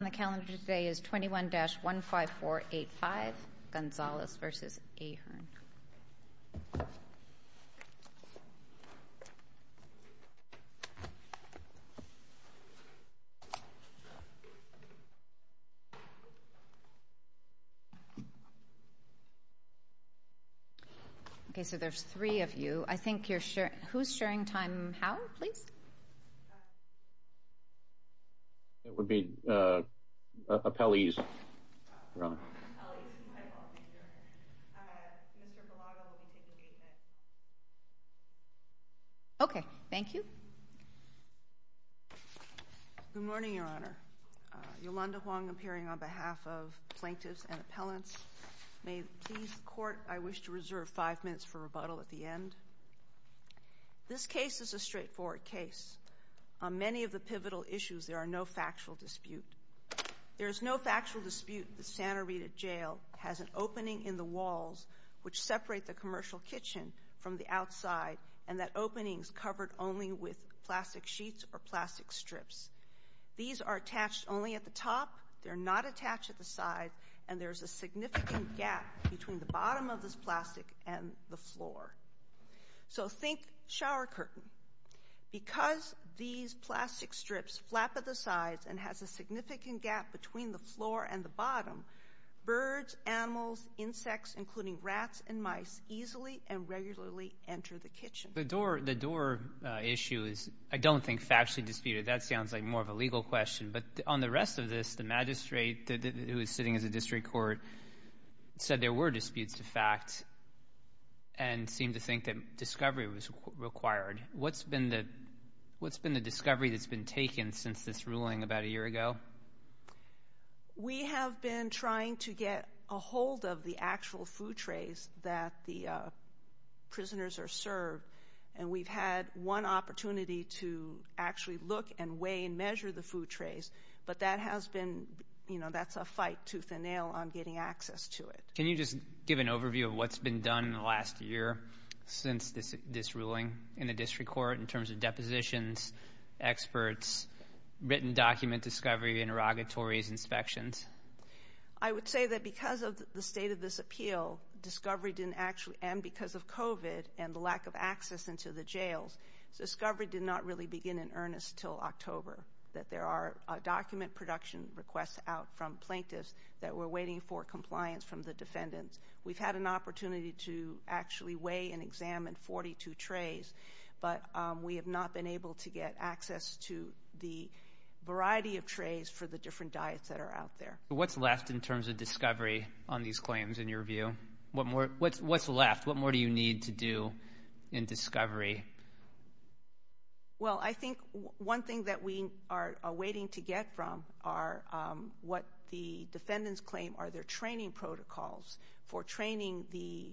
The calendar today is 21-15485, Gonzalez v. Ahern. Okay, so there's three of you. I think you're sharing... Who's sharing time? Howell, please. It would be appellees, Your Honor. Okay, thank you. Good morning, Your Honor. Yolanda Huang appearing on behalf of plaintiffs and appellants. May it please the court, I wish to reserve five minutes for rebuttal at the end. This case is a straightforward case. On many of the pivotal issues, there are no factual dispute. There is no factual dispute that Santa Rita Jail has an opening in the walls which separate the commercial kitchen from the outside, and that opening is covered only with plastic sheets or plastic strips. These are attached only at the top. They're not attached at the side, and there's a significant gap between the bottom of this plastic and the floor. So think shower curtain. Because these plastic strips flap at the sides and has a significant gap between the floor and the bottom, birds, animals, insects, including rats and mice, easily and regularly enter the kitchen. The door issue is I don't think factually disputed. That sounds like more of a legal question, but on the rest of this, the magistrate who is sitting as a district court said there were disputes to fact and seemed to think that discovery was required. What's been the discovery that's been taken since this ruling about a year ago? We have been trying to get a hold of the actual food trays that the prisoners are served, and we've had one opportunity to actually look and weigh and measure the food trays, but that's a fight tooth and nail on getting access to it. Can you just give an overview of what's been done in the last year since this ruling in the district court in terms of depositions, experts, written document discovery, interrogatories, inspections? I would say that because of the state of this appeal, discovery didn't actually, and because of COVID and the lack of access into the jails, discovery did not really begin in earnest until October, that there are document production requests out from plaintiffs that were waiting for compliance from the defendants. We've had an opportunity to actually weigh and examine 42 trays, but we have not been able to get access to the variety of trays for the different diets that are out there. What's left in terms of discovery on these claims in your view? What's left? What more do you need to do in discovery? Well, I think one thing that we are awaiting to get from are what the defendants claim are their training protocols for training the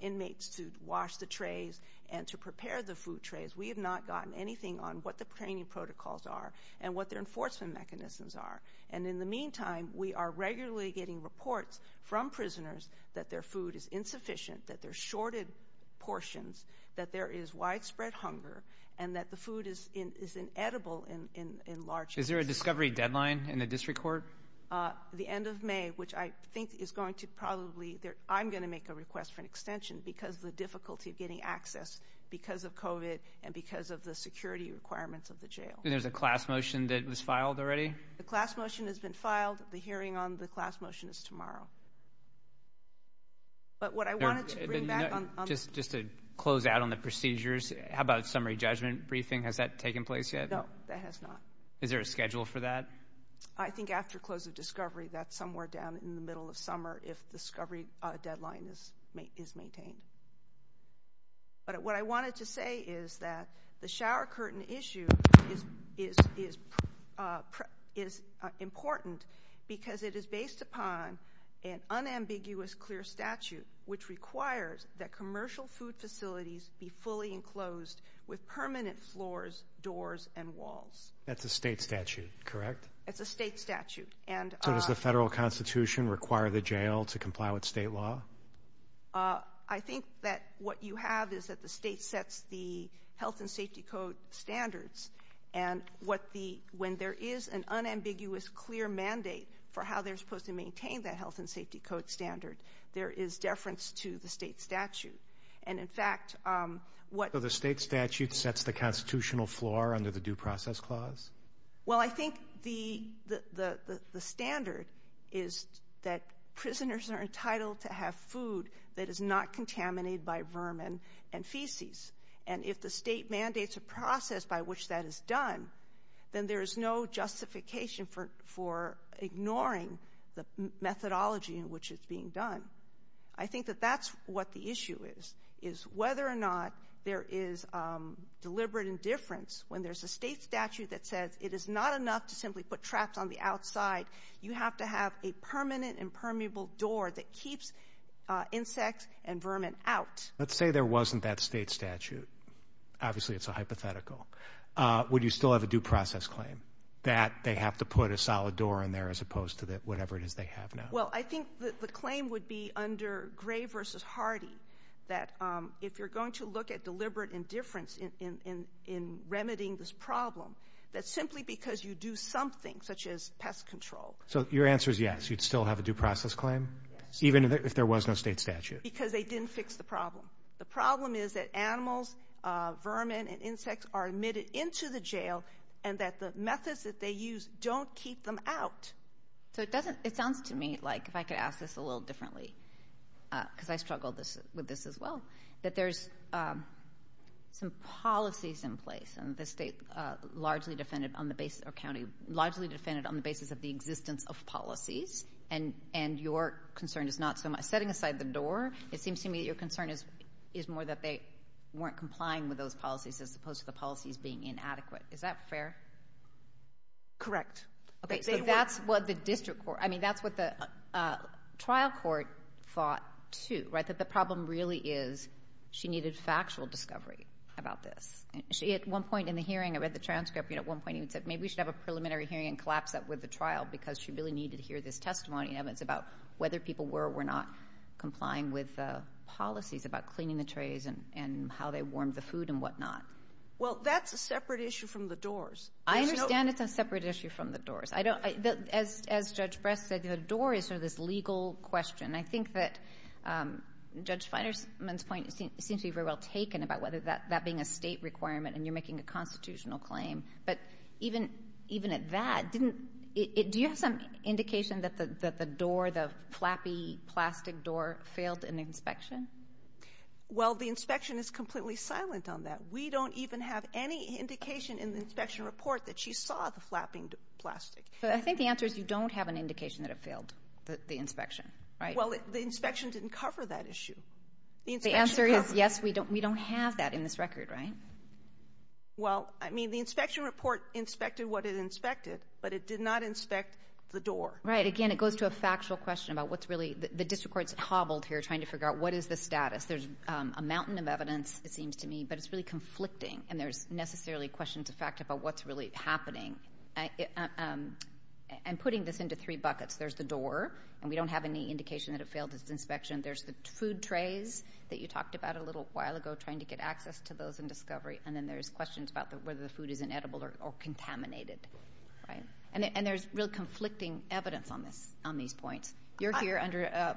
inmates to wash the trays and to prepare the food trays. We have not gotten anything on what the training protocols are and what their enforcement mechanisms are. And in the meantime, we are regularly getting reports from prisoners that their food is insufficient, that they're shorted portions, that there is widespread hunger, and that the food is inedible in large. Is there a discovery deadline in the district court? The end of May, which I think is going to probably, I'm going to make a request for an extension because of the difficulty of getting access because of COVID and because of the security requirements of the jail. There's a class motion that was filed already? The class motion has been filed. The hearing on the class motion is tomorrow. Just to close out on the procedures, how about summary judgment briefing? Has that taken place yet? No, that has not. Is there a schedule for that? I think after close of discovery, that's somewhere down in the middle of summer if the discovery deadline is maintained. But what I wanted to say is that the shower curtain issue is important because it is based upon an unambiguous clear statute which requires that commercial food facilities be fully enclosed with permanent floors, doors, and walls. That's a state statute, correct? It's a state statute. So does the federal constitution require the jail to comply with state law? I think that what you have is that the state sets the health and safety code standards. And when there is an unambiguous clear mandate for how they're supposed to maintain that health and safety code standard, there is deference to the state statute. So the state statute sets the constitutional floor under the due process clause? Well, I think the standard is that prisoners are entitled to have food that is not contaminated by vermin and feces. And if the state mandates a process by which that is done, then there is no justification for ignoring the methodology in which it's being done. I think that that's what the issue is, is whether or not there is deliberate indifference when there's a state statute that says it is not enough to simply put traps on the outside. You have to have a permanent and permeable door that keeps insects and vermin out. Let's say there wasn't that state statute. Obviously, it's a hypothetical. Would you still have a due process claim that they have to put a solid door in there as opposed to whatever it is they have now? Well, I think the claim would be under Gray v. Hardy that if you're going to look at deliberate indifference in remedying this problem, that's simply because you do something such as pest control. So your answer is yes, you'd still have a due process claim? Yes. Even if there was no state statute? Because they didn't fix the problem. The problem is that animals, vermin, and insects are admitted into the jail and that the methods that they use don't keep them out. So it sounds to me like, if I could ask this a little differently, because I struggle with this as well, that there's some policies in place. And the state largely defended on the basis of the existence of policies, and your concern is not so much. Setting aside the door, it seems to me that your concern is more that they weren't complying with those policies as opposed to the policies being inadequate. Is that fair? Correct. Okay, so that's what the district court, I mean, that's what the trial court thought, too, right? That the problem really is she needed factual discovery about this. At one point in the hearing, I read the transcript, at one point he said maybe we should have a preliminary hearing and collapse that with the trial because she really needed to hear this testimony. It's about whether people were or were not complying with the policies about cleaning the trays and how they warmed the food and whatnot. Well, that's a separate issue from the doors. I understand it's a separate issue from the doors. As Judge Bress said, the door is sort of this legal question. I think that Judge Finerman's point seems to be very well taken about whether that being a state requirement and you're making a constitutional claim. But even at that, do you have some indication that the door, the flappy plastic door, failed in the inspection? Well, the inspection is completely silent on that. We don't even have any indication in the inspection report that she saw the flapping plastic. So I think the answer is you don't have an indication that it failed, the inspection, right? Well, the inspection didn't cover that issue. The answer is yes, we don't have that in this record, right? Well, I mean, the inspection report inspected what it inspected, but it did not inspect the door. Right, again, it goes to a factual question about what's really, the district court's hobbled here trying to figure out what is the status. There's a mountain of evidence, it seems to me, but it's really conflicting, and there's necessarily questions of fact about what's really happening. And putting this into three buckets, there's the door, and we don't have any indication that it failed its inspection. There's the food trays that you talked about a little while ago, trying to get access to those in discovery, and then there's questions about whether the food is inedible or contaminated, right? And there's real conflicting evidence on these points. You're here under,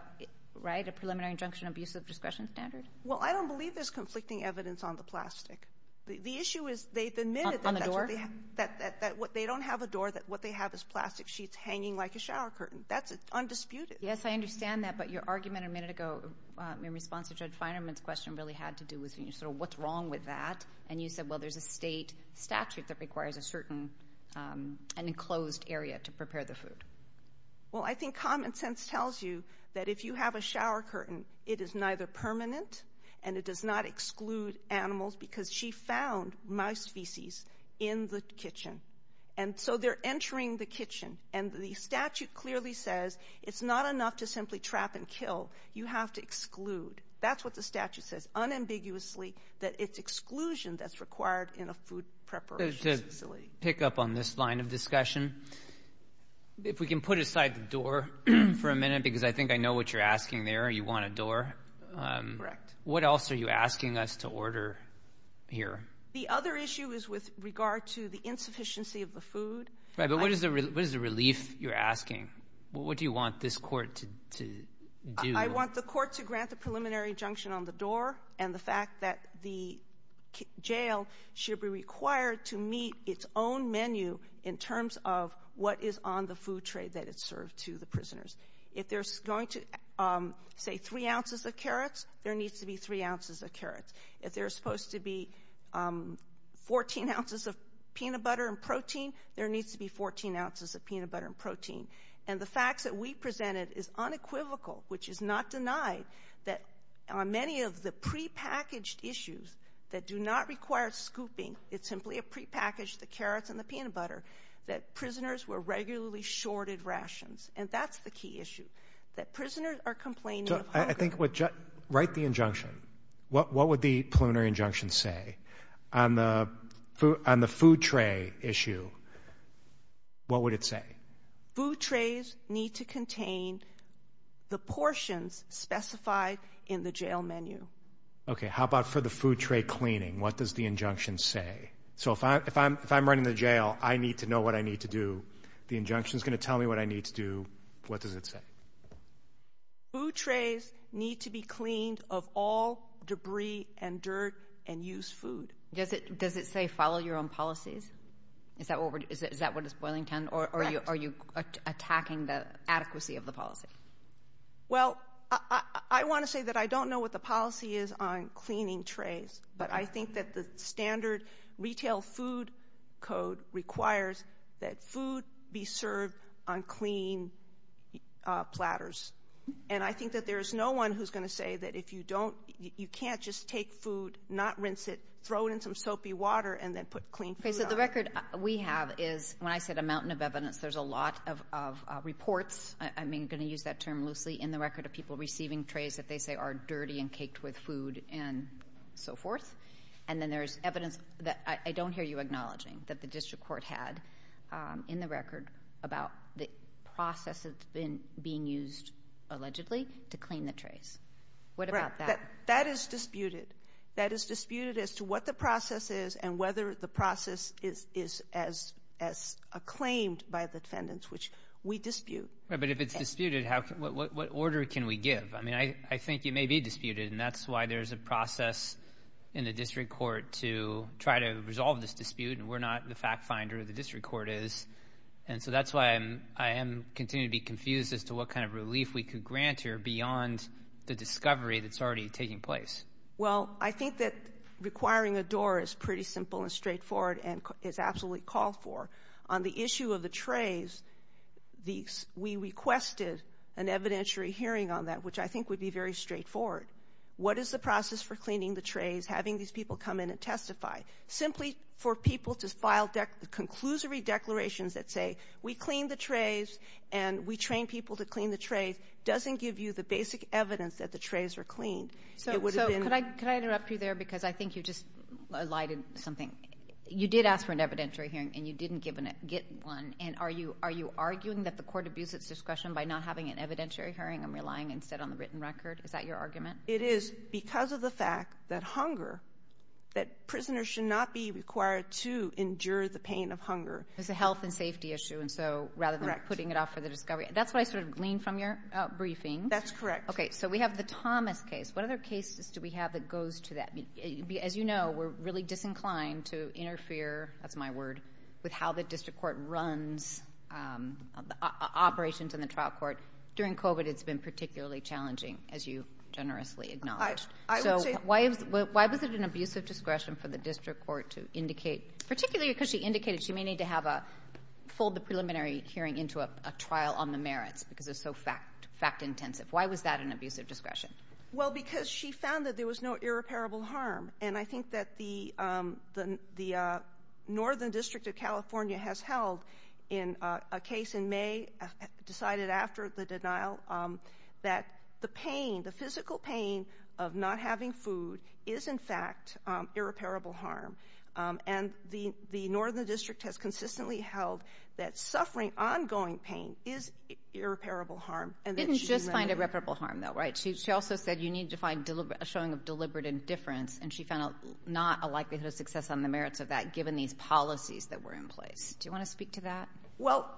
right, a preliminary injunction of abuse of discretion standard? Well, I don't believe there's conflicting evidence on the plastic. The issue is they've admitted that that's what they have. On the door? That they don't have a door, that what they have is plastic sheets hanging like a shower curtain. That's undisputed. Yes, I understand that, but your argument a minute ago in response to Judge Finerman's question really had to do with sort of what's wrong with that, and you said, well, there's a State statute that requires a certain, an enclosed area to prepare the food. Well, I think common sense tells you that if you have a shower curtain, it is neither permanent and it does not exclude animals because she found mouse feces in the kitchen. And so they're entering the kitchen, and the statute clearly says it's not enough to simply trap and kill. You have to exclude. That's what the statute says unambiguously, that it's exclusion that's required in a food preparation facility. Let me pick up on this line of discussion. If we can put aside the door for a minute because I think I know what you're asking there, you want a door. Correct. What else are you asking us to order here? The other issue is with regard to the insufficiency of the food. Right, but what is the relief you're asking? What do you want this court to do? I want the court to grant the preliminary injunction on the door and the fact that the jail should be required to meet its own menu in terms of what is on the food tray that is served to the prisoners. If there's going to, say, three ounces of carrots, there needs to be three ounces of carrots. If there's supposed to be 14 ounces of peanut butter and protein, there needs to be 14 ounces of peanut butter and protein. And the facts that we presented is unequivocal, which is not denied, that on many of the prepackaged issues that do not require scooping, it's simply a prepackaged, the carrots and the peanut butter, that prisoners were regularly shorted rations. And that's the key issue, that prisoners are complaining of hunger. So I think write the injunction. What would the preliminary injunction say? On the food tray issue, what would it say? Food trays need to contain the portions specified in the jail menu. Okay, how about for the food tray cleaning? What does the injunction say? So if I'm running the jail, I need to know what I need to do. The injunction is going to tell me what I need to do. What does it say? Food trays need to be cleaned of all debris and dirt and used food. Does it say follow your own policies? Is that what is boiling down, or are you attacking the adequacy of the policy? Well, I want to say that I don't know what the policy is on cleaning trays, but I think that the standard retail food code requires that food be served on clean platters. And I think that there's no one who's going to say that if you don't, you can't just take food, not rinse it, throw it in some soapy water, and then put clean food on it. Okay, so the record we have is, when I said a mountain of evidence, there's a lot of reports, I'm going to use that term loosely, in the record of people receiving trays that they say are dirty and caked with food and so forth. And then there's evidence that I don't hear you acknowledging that the district court had in the record about the process that's being used, allegedly, to clean the trays. What about that? That is disputed. That is disputed as to what the process is and whether the process is as acclaimed by the defendants, which we dispute. But if it's disputed, what order can we give? I mean, I think it may be disputed, and that's why there's a process in the district court to try to resolve this dispute, and we're not the fact finder, the district court is. And so that's why I continue to be confused as to what kind of relief we could grant here beyond the discovery that's already taking place. Well, I think that requiring a door is pretty simple and straightforward and is absolutely called for. On the issue of the trays, we requested an evidentiary hearing on that, which I think would be very straightforward. What is the process for cleaning the trays, having these people come in and testify? Simply for people to file the conclusory declarations that say, we cleaned the trays and we trained people to clean the trays, doesn't give you the basic evidence that the trays were cleaned. So could I interrupt you there because I think you just lied in something. You did ask for an evidentiary hearing and you didn't get one, and are you arguing that the court abuses discretion by not having an evidentiary hearing and relying instead on the written record? Is that your argument? It is because of the fact that hunger, that prisoners should not be required to endure the pain of hunger. It's a health and safety issue, and so rather than putting it off for the discovery. That's what I sort of gleaned from your briefing. That's correct. Okay, so we have the Thomas case. What other cases do we have that goes to that? As you know, we're really disinclined to interfere, that's my word, with how the district court runs operations in the trial court. During COVID, it's been particularly challenging, as you generously acknowledged. So why was it an abusive discretion for the district court to indicate, particularly because she indicated she may need to have a, fold the preliminary hearing into a trial on the merits because it's so fact-intensive. Why was that an abusive discretion? Well, because she found that there was no irreparable harm, and I think that the Northern District of California has held in a case in May, decided after the denial, that the pain, the physical pain of not having food, is in fact irreparable harm, and the Northern District has consistently held that suffering ongoing pain is irreparable harm. Didn't just find irreparable harm, though, right? She also said you need to find a showing of deliberate indifference, and she found not a likelihood of success on the merits of that, given these policies that were in place. Do you want to speak to that? Well,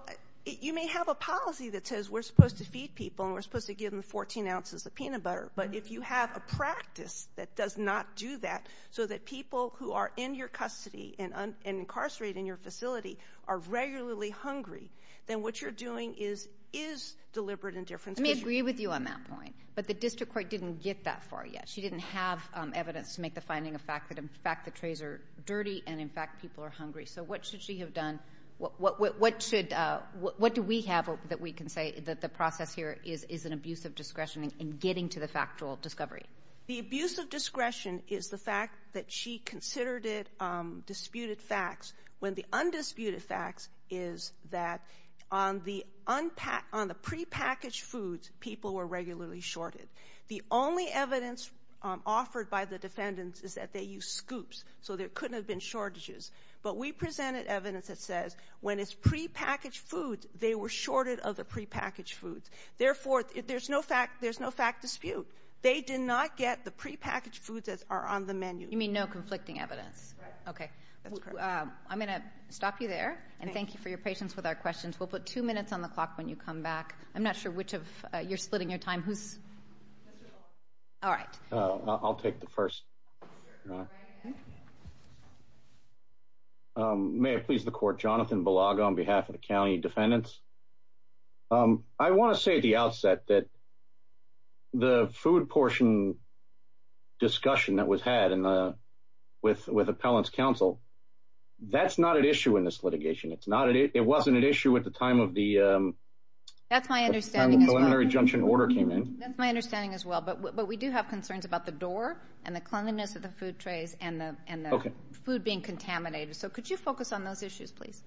you may have a policy that says we're supposed to feed people and we're supposed to give them 14 ounces of peanut butter, but if you have a practice that does not do that, so that people who are in your custody and incarcerated in your facility are regularly hungry, then what you're doing is deliberate indifference. Let me agree with you on that point. But the district court didn't get that far yet. She didn't have evidence to make the finding of fact that, in fact, the trays are dirty and, in fact, people are hungry. So what should she have done? What do we have that we can say that the process here is an abuse of discretion in getting to the factual discovery? The abuse of discretion is the fact that she considered it disputed facts, when the undisputed facts is that on the prepackaged foods people were regularly shorted. The only evidence offered by the defendants is that they used scoops, so there couldn't have been shortages. But we presented evidence that says when it's prepackaged foods, they were shorted of the prepackaged foods. Therefore, there's no fact dispute. They did not get the prepackaged foods that are on the menu. You mean no conflicting evidence? Right. Okay. That's correct. I'm going to stop you there, and thank you for your patience with our questions. We'll put two minutes on the clock when you come back. I'm not sure which of you're splitting your time. All right. I'll take the first. May I please the court? Jonathan Belago on behalf of the county defendants. I want to say at the outset that the food portion discussion that was had with appellants' counsel, that's not at issue in this litigation. It wasn't at issue at the time of the preliminary injunction order came in. That's my understanding as well, but we do have concerns about the door and the cleanliness of the food trays and the food being contaminated. So could you focus on those issues, please?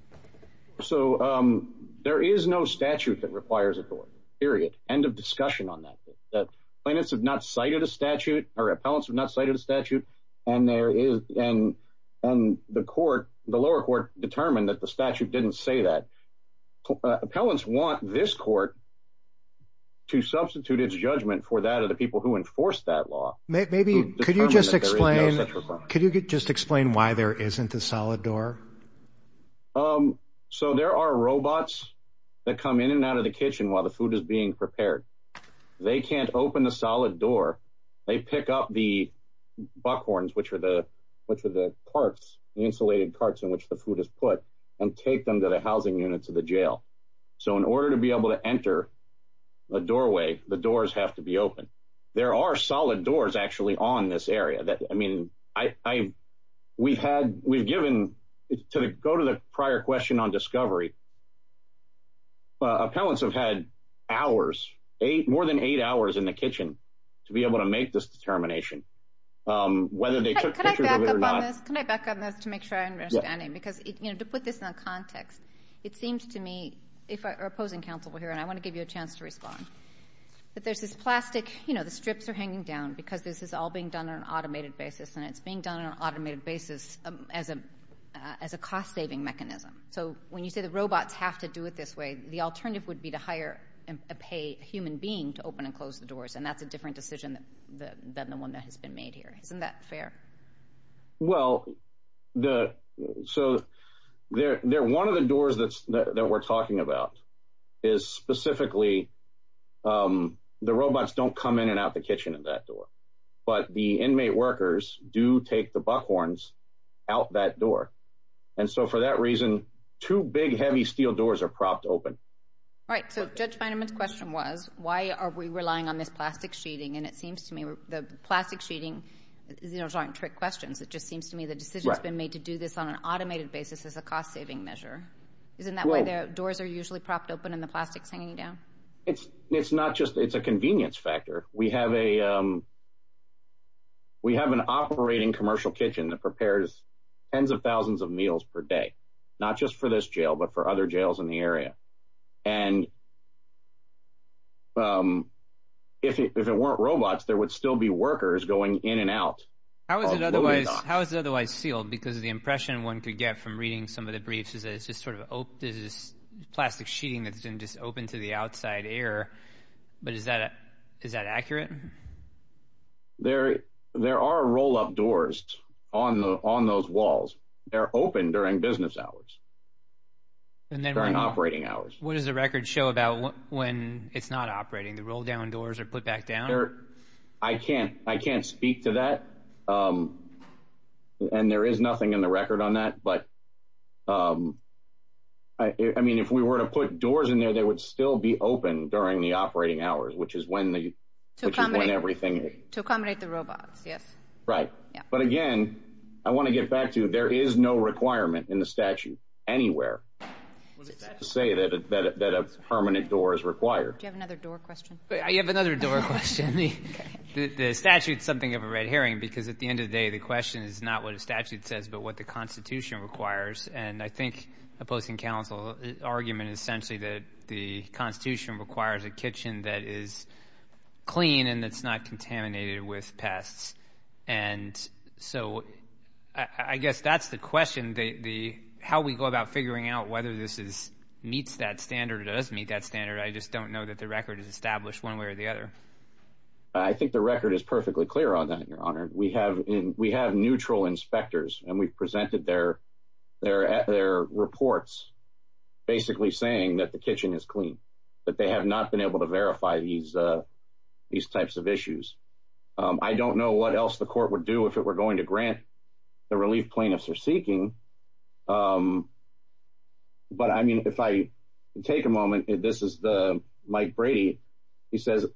So there is no statute that requires a door, period. End of discussion on that. Appellants have not cited a statute, and the lower court determined that the statute didn't say that. Appellants want this court to substitute its judgment for that of the people who enforced that law. Could you just explain why there isn't a solid door? So there are robots that come in and out of the kitchen while the food is being prepared. They can't open a solid door. They pick up the buckhorns, which are the parts, the insulated parts in which the food is put, and take them to the housing units of the jail. So in order to be able to enter a doorway, the doors have to be open. There are solid doors, actually, on this area. I mean, we've given, to go to the prior question on discovery, appellants have had hours, more than eight hours in the kitchen, to be able to make this determination, whether they took pictures of it or not. Can I back up on this to make sure I understand it? Because, you know, to put this in a context, it seems to me, if our opposing counsel were here, and I want to give you a chance to respond, that there's this plastic, you know, the strips are hanging down because this is all being done on an automated basis, and it's being done on an automated basis as a cost-saving mechanism. So when you say the robots have to do it this way, the alternative would be to hire a human being to open and close the doors, and that's a different decision than the one that has been made here. Isn't that fair? Well, so one of the doors that we're talking about is specifically, the robots don't come in and out the kitchen in that door, but the inmate workers do take the buckhorns out that door. And so for that reason, two big, heavy steel doors are propped open. All right, so Judge Fineman's question was, why are we relying on this plastic sheeting? And it seems to me the plastic sheeting, you know, those aren't trick questions. It just seems to me the decision's been made to do this on an automated basis as a cost-saving measure. Isn't that why the doors are usually propped open and the plastic's hanging down? It's not just a convenience factor. We have an operating commercial kitchen that prepares tens of thousands of meals per day, and if it weren't robots, there would still be workers going in and out. How is it otherwise sealed? Because the impression one could get from reading some of the briefs is that it's just sort of this plastic sheeting that's been just opened to the outside air. But is that accurate? There are roll-up doors on those walls. They're open during business hours. During operating hours. What does the record show about when it's not operating? The roll-down doors are put back down? I can't speak to that, and there is nothing in the record on that. I mean, if we were to put doors in there, they would still be open during the operating hours, which is when everything is. To accommodate the robots, yes. Right. But, again, I want to get back to there is no requirement in the statute anywhere to say that a permanent door is required. Do you have another door question? I have another door question. The statute is something of a red herring because, at the end of the day, the question is not what the statute says but what the Constitution requires, and I think opposing counsel's argument is essentially that the Constitution requires a kitchen that is clean and that's not contaminated with pests. And so I guess that's the question, how we go about figuring out whether this meets that standard or doesn't meet that standard. I just don't know that the record is established one way or the other. I think the record is perfectly clear on that, Your Honor. We have neutral inspectors, and we've presented their reports basically saying that the kitchen is clean, but they have not been able to verify these types of issues. I don't know what else the court would do if it were going to grant the relief plaintiffs are seeking, but, I mean, if I take a moment, this is Mike Brady. He says,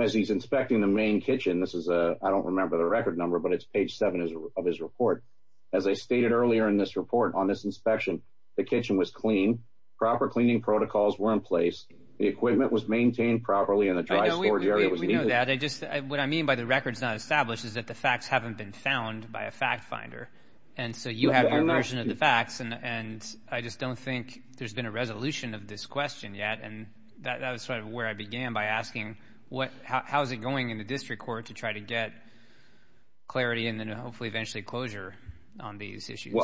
as he's inspecting the main kitchen, this is a – I don't remember the record number, but it's page 7 of his report. As I stated earlier in this report, on this inspection, the kitchen was clean. Proper cleaning protocols were in place. The equipment was maintained properly, and a dry storage area was needed. We know that. What I mean by the record is not established is that the facts haven't been found by a fact finder. And so you have your version of the facts, and I just don't think there's been a resolution of this question yet. And that was sort of where I began by asking, how is it going in the district court to try to get clarity and then hopefully eventually closure on these issues?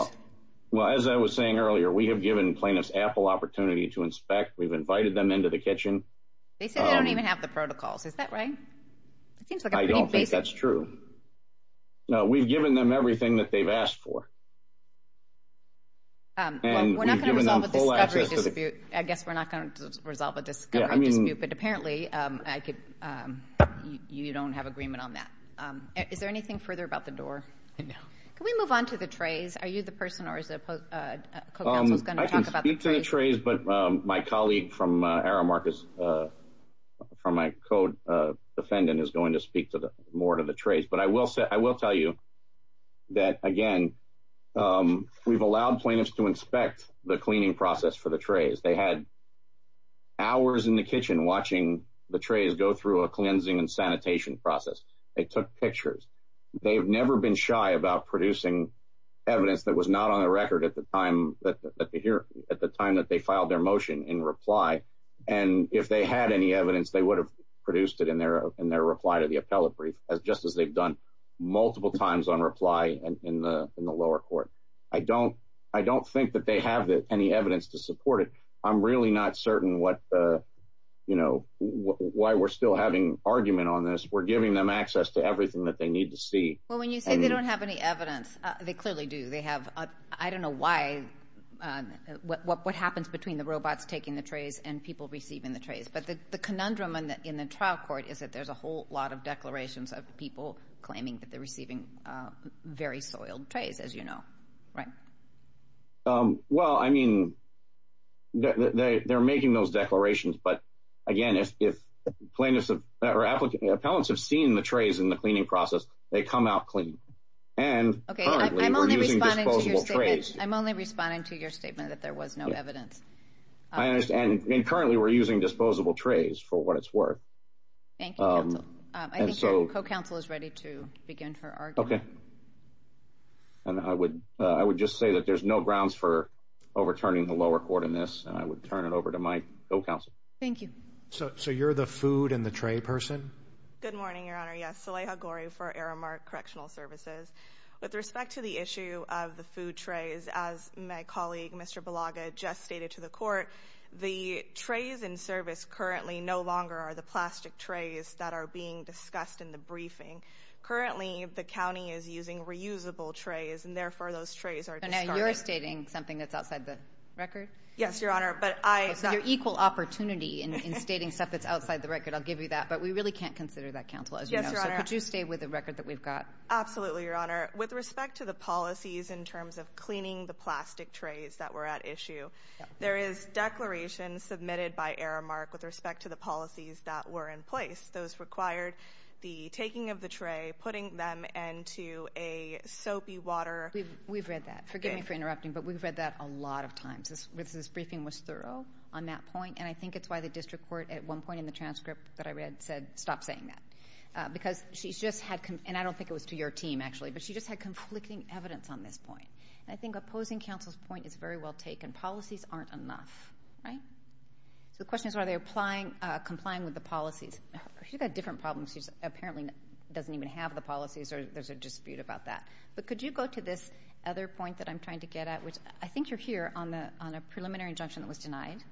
Well, as I was saying earlier, we have given plaintiffs ample opportunity to inspect. We've invited them into the kitchen. They said they don't even have the protocols. Is that right? I don't think that's true. No, we've given them everything that they've asked for. We're not going to resolve a discovery dispute. I guess we're not going to resolve a discovery dispute, but apparently you don't have agreement on that. Is there anything further about the door? No. Can we move on to the trays? Are you the person or is the co-counsel going to talk about the trays? I can speak to the trays, but my colleague from Aramarkus, from my co-defendant, is going to speak more to the trays. But I will tell you that, again, we've allowed plaintiffs to inspect the cleaning process for the trays. They had hours in the kitchen watching the trays go through a cleansing and sanitation process. They took pictures. They've never been shy about producing evidence that was not on the record at the time that they filed their motion in reply. And if they had any evidence, they would have produced it in their reply to the appellate brief, just as they've done multiple times on reply in the lower court. I don't think that they have any evidence to support it. I'm really not certain why we're still having argument on this. We're giving them access to everything that they need to see. Well, when you say they don't have any evidence, they clearly do. I don't know what happens between the robots taking the trays and people receiving the trays. But the conundrum in the trial court is that there's a whole lot of declarations of people claiming that they're receiving very soiled trays, as you know. Right? Well, I mean, they're making those declarations. But, again, if plaintiffs or appellants have seen the trays in the cleaning process, they come out clean. And currently we're using disposable trays. I'm only responding to your statement that there was no evidence. And currently we're using disposable trays for what it's worth. Thank you, counsel. I think your co-counsel is ready to begin her argument. Okay. And I would just say that there's no grounds for overturning the lower court in this. And I would turn it over to my co-counsel. Thank you. So you're the food and the tray person? Good morning, Your Honor. Yes. Saleha Ghori for Aramark Correctional Services. With respect to the issue of the food trays, as my colleague, Mr. Balaga, just stated to the court, the trays in service currently no longer are the plastic trays that are being discussed in the briefing. Currently, the county is using reusable trays, and therefore those trays are discarded. So now you're stating something that's outside the record? Yes, Your Honor. It's your equal opportunity in stating stuff that's outside the record. I'll give you that. But we really can't consider that, counsel, as you know. Yes, Your Honor. So could you stay with the record that we've got? Absolutely, Your Honor. With respect to the policies in terms of cleaning the plastic trays that were at issue, there is declaration submitted by Aramark with respect to the policies that were in place. Those required the taking of the tray, putting them into a soapy water... We've read that. Forgive me for interrupting, but we've read that a lot of times. This briefing was thorough on that point, and I think it's why the district court at one point in the transcript that I read said, stop saying that. Because she's just had... and I don't think it was to your team, actually, but she just had conflicting evidence on this point. And I think opposing counsel's point is very well taken. Policies aren't enough, right? So the question is, are they complying with the policies? She's got different problems. She apparently doesn't even have the policies, or there's a dispute about that. But could you go to this other point that I'm trying to get at, which I think you're here on a preliminary injunction that was denied.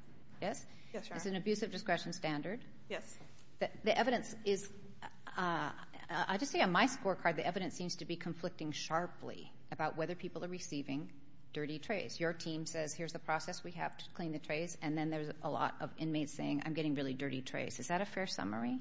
Yes? Yes, Your Honor. It's an abuse of discretion standard. Yes. The evidence is... I just see on my scorecard, the evidence seems to be conflicting sharply about whether people are receiving dirty trays. Your team says, here's the process we have to clean the trays, and then there's a lot of inmates saying, I'm getting really dirty trays. Is that a fair summary?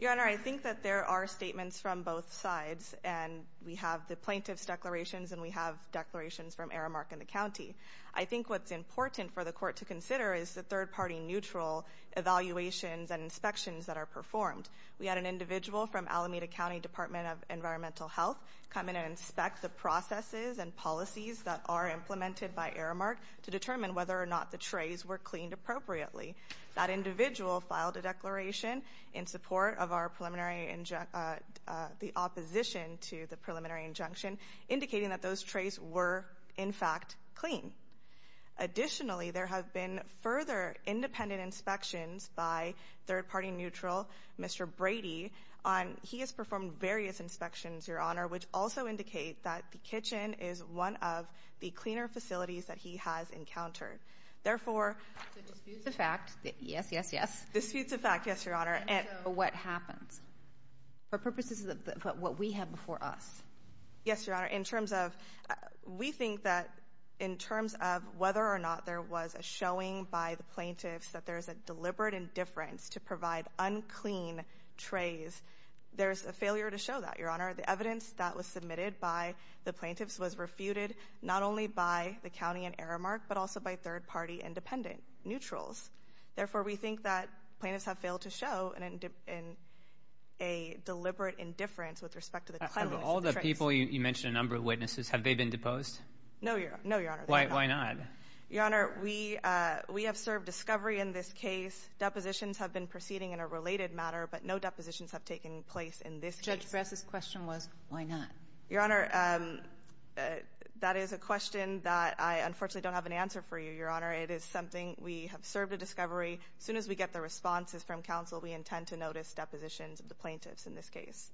Your Honor, I think that there are statements from both sides. And we have the plaintiff's declarations, and we have declarations from Aramark and the county. I think what's important for the court to consider is the third-party neutral evaluations and inspections that are performed. We had an individual from Alameda County Department of Environmental Health come in and inspect the processes and policies that are implemented by Aramark to determine whether or not the trays were cleaned appropriately. That individual filed a declaration in support of our preliminary injunction, the opposition to the preliminary injunction, indicating that those trays were, in fact, clean. Additionally, there have been further independent inspections by third-party neutral Mr. Brady. He has performed various inspections, Your Honor, which also indicate that the kitchen is one of the cleaner facilities that he has encountered. Therefore... So disputes of fact. Yes, yes, yes. Disputes of fact, yes, Your Honor. And so what happens? For purposes of what we have before us. Yes, Your Honor, in terms of... We think that in terms of whether or not there was a showing by the plaintiffs that there's a deliberate indifference to provide unclean trays, there's a failure to show that, Your Honor. The evidence that was submitted by the plaintiffs was refuted not only by the county and Aramark, but also by third-party independent neutrals. Therefore, we think that plaintiffs have failed to show a deliberate indifference with respect to the cleanliness of the trays. Out of all the people you mentioned, a number of witnesses, have they been deposed? No, Your Honor. No, Your Honor. Why not? Your Honor, we have served discovery in this case. Depositions have been proceeding in a related matter, but no depositions have taken place in this case. Judge Bress's question was, why not? Your Honor, that is a question that I unfortunately don't have an answer for you, Your Honor. It is something we have served a discovery. As soon as we get the responses from counsel, we intend to notice depositions of the plaintiffs in this case.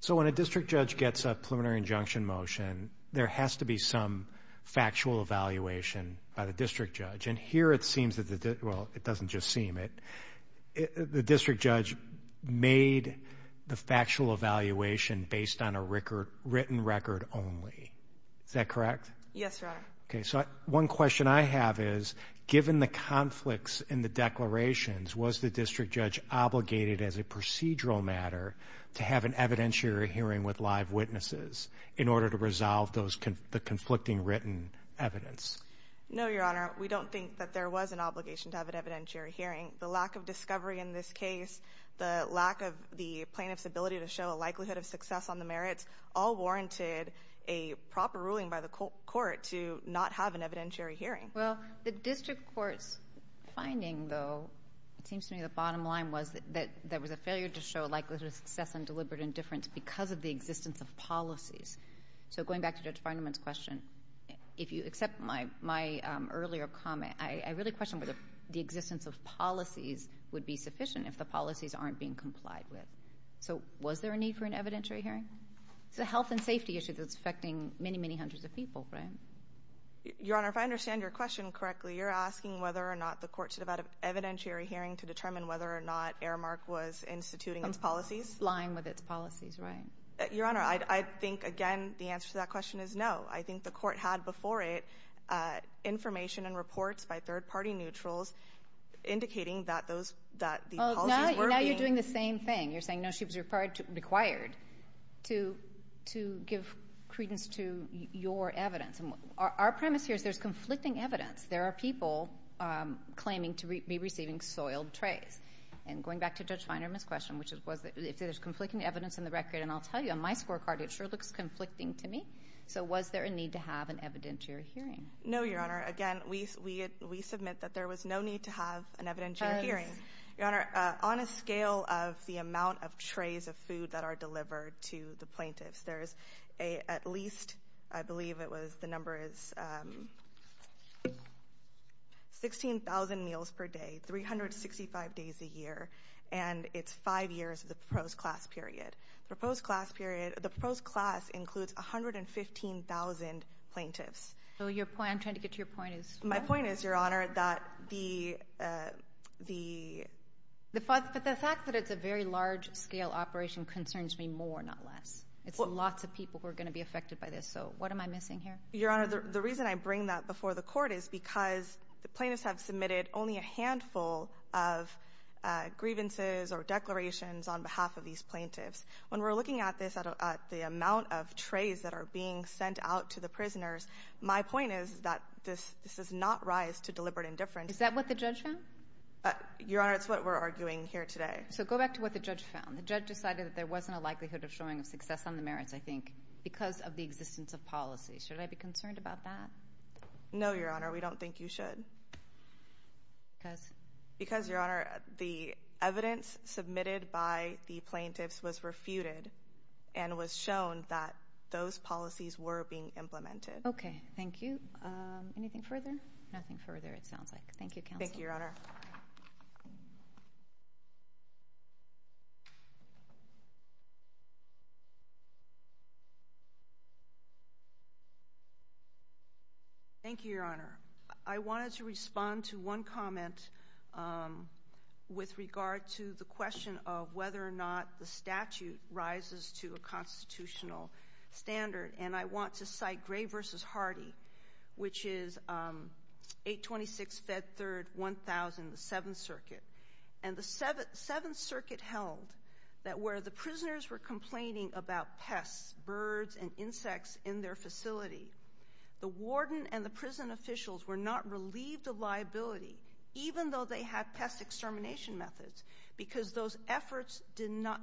So when a district judge gets a preliminary injunction motion, there has to be some factual evaluation by the district judge. And here it seems that the district judge made the factual evaluation based on a written record only. Is that correct? Yes, Your Honor. Okay, so one question I have is, given the conflicts in the declarations, was the district judge obligated as a procedural matter to have an evidentiary hearing with live witnesses in order to resolve the conflicting written evidence? No, Your Honor. We don't think that there was an obligation to have an evidentiary hearing. The lack of discovery in this case, the lack of the plaintiff's ability to show a likelihood of success on the merits, all warranted a proper ruling by the court to not have an evidentiary hearing. Well, the district court's finding, though, it seems to me the bottom line was that there was a failure to show likelihood of success and deliberate indifference because of the existence of policies. So going back to Judge Feinman's question, if you accept my earlier comment, I really question whether the existence of policies would be sufficient if the policies aren't being complied with. So was there a need for an evidentiary hearing? It's a health and safety issue that's affecting many, many hundreds of people, right? Your Honor, if I understand your question correctly, you're asking whether or not the court should have had an evidentiary hearing to determine whether or not Aramark was instituting its policies? Lying with its policies, right. Your Honor, I think, again, the answer to that question is no. I think the court had before it information and reports by third-party neutrals indicating that the policies were being— But now you're doing the same thing. You're saying, no, she was required to give credence to your evidence. Our premise here is there's conflicting evidence. There are people claiming to be receiving soiled trays. And going back to Judge Feinman's question, if there's conflicting evidence in the record, and I'll tell you, on my scorecard, it sure looks conflicting to me. So was there a need to have an evidentiary hearing? No, Your Honor. Again, we submit that there was no need to have an evidentiary hearing. Your Honor, on a scale of the amount of trays of food that are delivered to the plaintiffs, there's at least, I believe it was, the number is 16,000 meals per day, 365 days a year, and it's five years of the proposed class period. The proposed class includes 115,000 plaintiffs. I'm trying to get to your point. My point is, Your Honor, that the— The fact that it's a very large-scale operation concerns me more, not less. It's lots of people who are going to be affected by this. So what am I missing here? Your Honor, the reason I bring that before the court is because the plaintiffs have submitted only a handful of grievances or declarations on behalf of these plaintiffs. When we're looking at this, at the amount of trays that are being sent out to the prisoners, my point is that this does not rise to deliberate indifference. Is that what the judge found? Your Honor, it's what we're arguing here today. So go back to what the judge found. The judge decided that there wasn't a likelihood of showing a success on the merits, I think, because of the existence of policy. Should I be concerned about that? No, Your Honor. We don't think you should. Because? Because, Your Honor, the evidence submitted by the plaintiffs was refuted and was shown that those policies were being implemented. Okay. Thank you. Anything further? Nothing further, it sounds like. Thank you, counsel. Thank you, Your Honor. Thank you, Your Honor. I wanted to respond to one comment with regard to the question of whether or not the statute rises to a constitutional standard. And I want to cite Gray v. Hardy, which is 826 Fed Third 1000, the Seventh Circuit. And the Seventh Circuit held that where the prisoners were complaining about pests, birds, and insects in their facility, the warden and the prison officials were not relieved of liability, even though they had pest extermination methods, because those efforts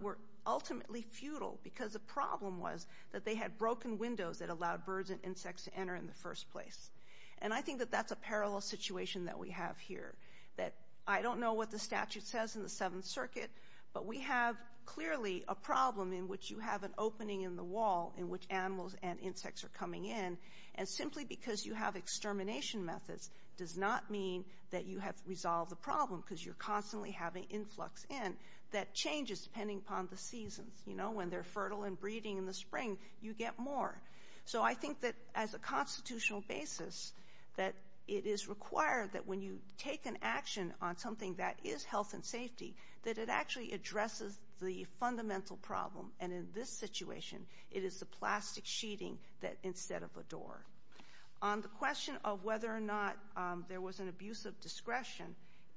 were ultimately futile, because the problem was that they had broken windows that allowed birds and insects to enter in the first place. And I think that that's a parallel situation that we have here, that I don't know what the statute says in the Seventh Circuit, but we have clearly a problem in which you have an opening in the wall in which animals and insects are coming in. And simply because you have extermination methods does not mean that you have resolved the problem, because you're constantly having influx in that changes depending upon the seasons. You know, when they're fertile and breeding in the spring, you get more. So I think that as a constitutional basis, that it is required that when you take an action on something that is health and safety, that it actually addresses the fundamental problem. And in this situation, it is the plastic sheeting instead of a door. On the question of whether or not there was an abuse of discretion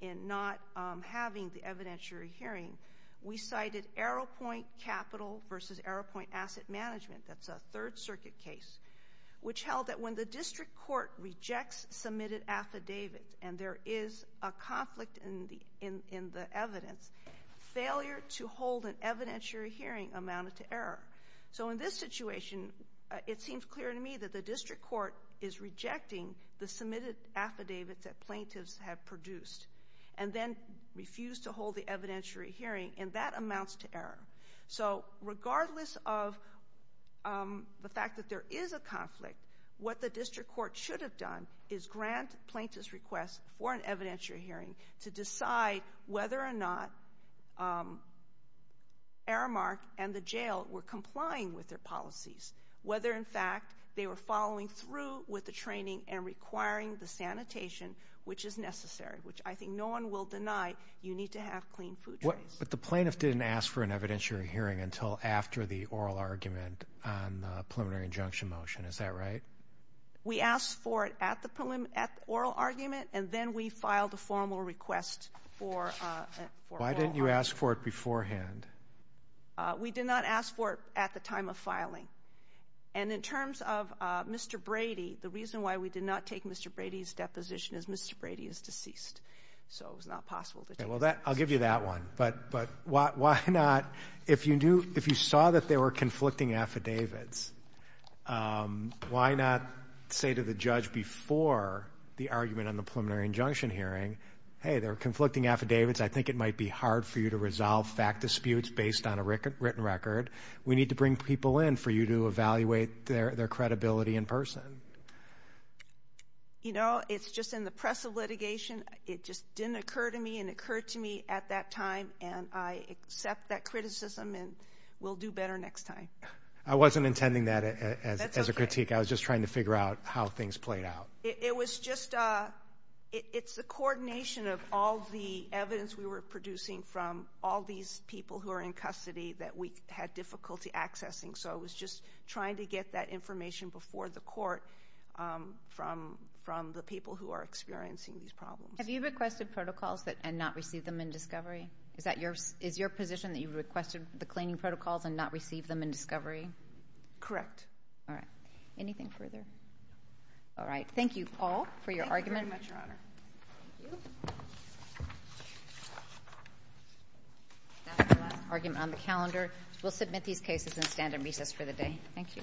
in not having the evidentiary hearing, we cited Arrowpoint Capital v. Arrowpoint Asset Management. That's a Third Circuit case, which held that when the district court rejects submitted affidavits and there is a conflict in the evidence, failure to hold an evidentiary hearing amounted to error. So in this situation, it seems clear to me that the district court is rejecting the submitted affidavits that plaintiffs have produced and then refused to hold the evidentiary hearing, and that amounts to error. So regardless of the fact that there is a conflict, what the district court should have done is grant plaintiffs' requests for an evidentiary hearing to decide whether or not Aramark and the jail were complying with their policies, whether in fact they were following through with the training and requiring the sanitation which is necessary, which I think no one will deny you need to have clean food trays. But the plaintiff didn't ask for an evidentiary hearing until after the oral argument on the preliminary injunction motion. Is that right? We asked for it at the oral argument, and then we filed a formal request for oral argument. Why didn't you ask for it beforehand? We did not ask for it at the time of filing. And in terms of Mr. Brady, the reason why we did not take Mr. Brady's deposition is Mr. Brady is deceased. So it was not possible to take it. Okay. Well, I'll give you that one. But why not, if you saw that there were conflicting affidavits, why not say to the judge before the argument on the preliminary injunction hearing, hey, there are conflicting affidavits. I think it might be hard for you to resolve fact disputes based on a written record. We need to bring people in for you to evaluate their credibility in person. You know, it's just in the press of litigation. It just didn't occur to me, and it occurred to me at that time, and I accept that criticism and will do better next time. I wasn't intending that as a critique. I was just trying to figure out how things played out. It was just a coordination of all the evidence we were producing from all these people who are in custody that we had difficulty accessing. So I was just trying to get that information before the court from the people who are experiencing these problems. Have you requested protocols and not received them in discovery? Is your position that you requested the cleaning protocols and not received them in discovery? Correct. All right. Anything further? No. All right. Thank you all for your argument. Thank you. That's the last argument on the calendar. We'll submit these cases and stand in recess for the day. Thank you. Thank you.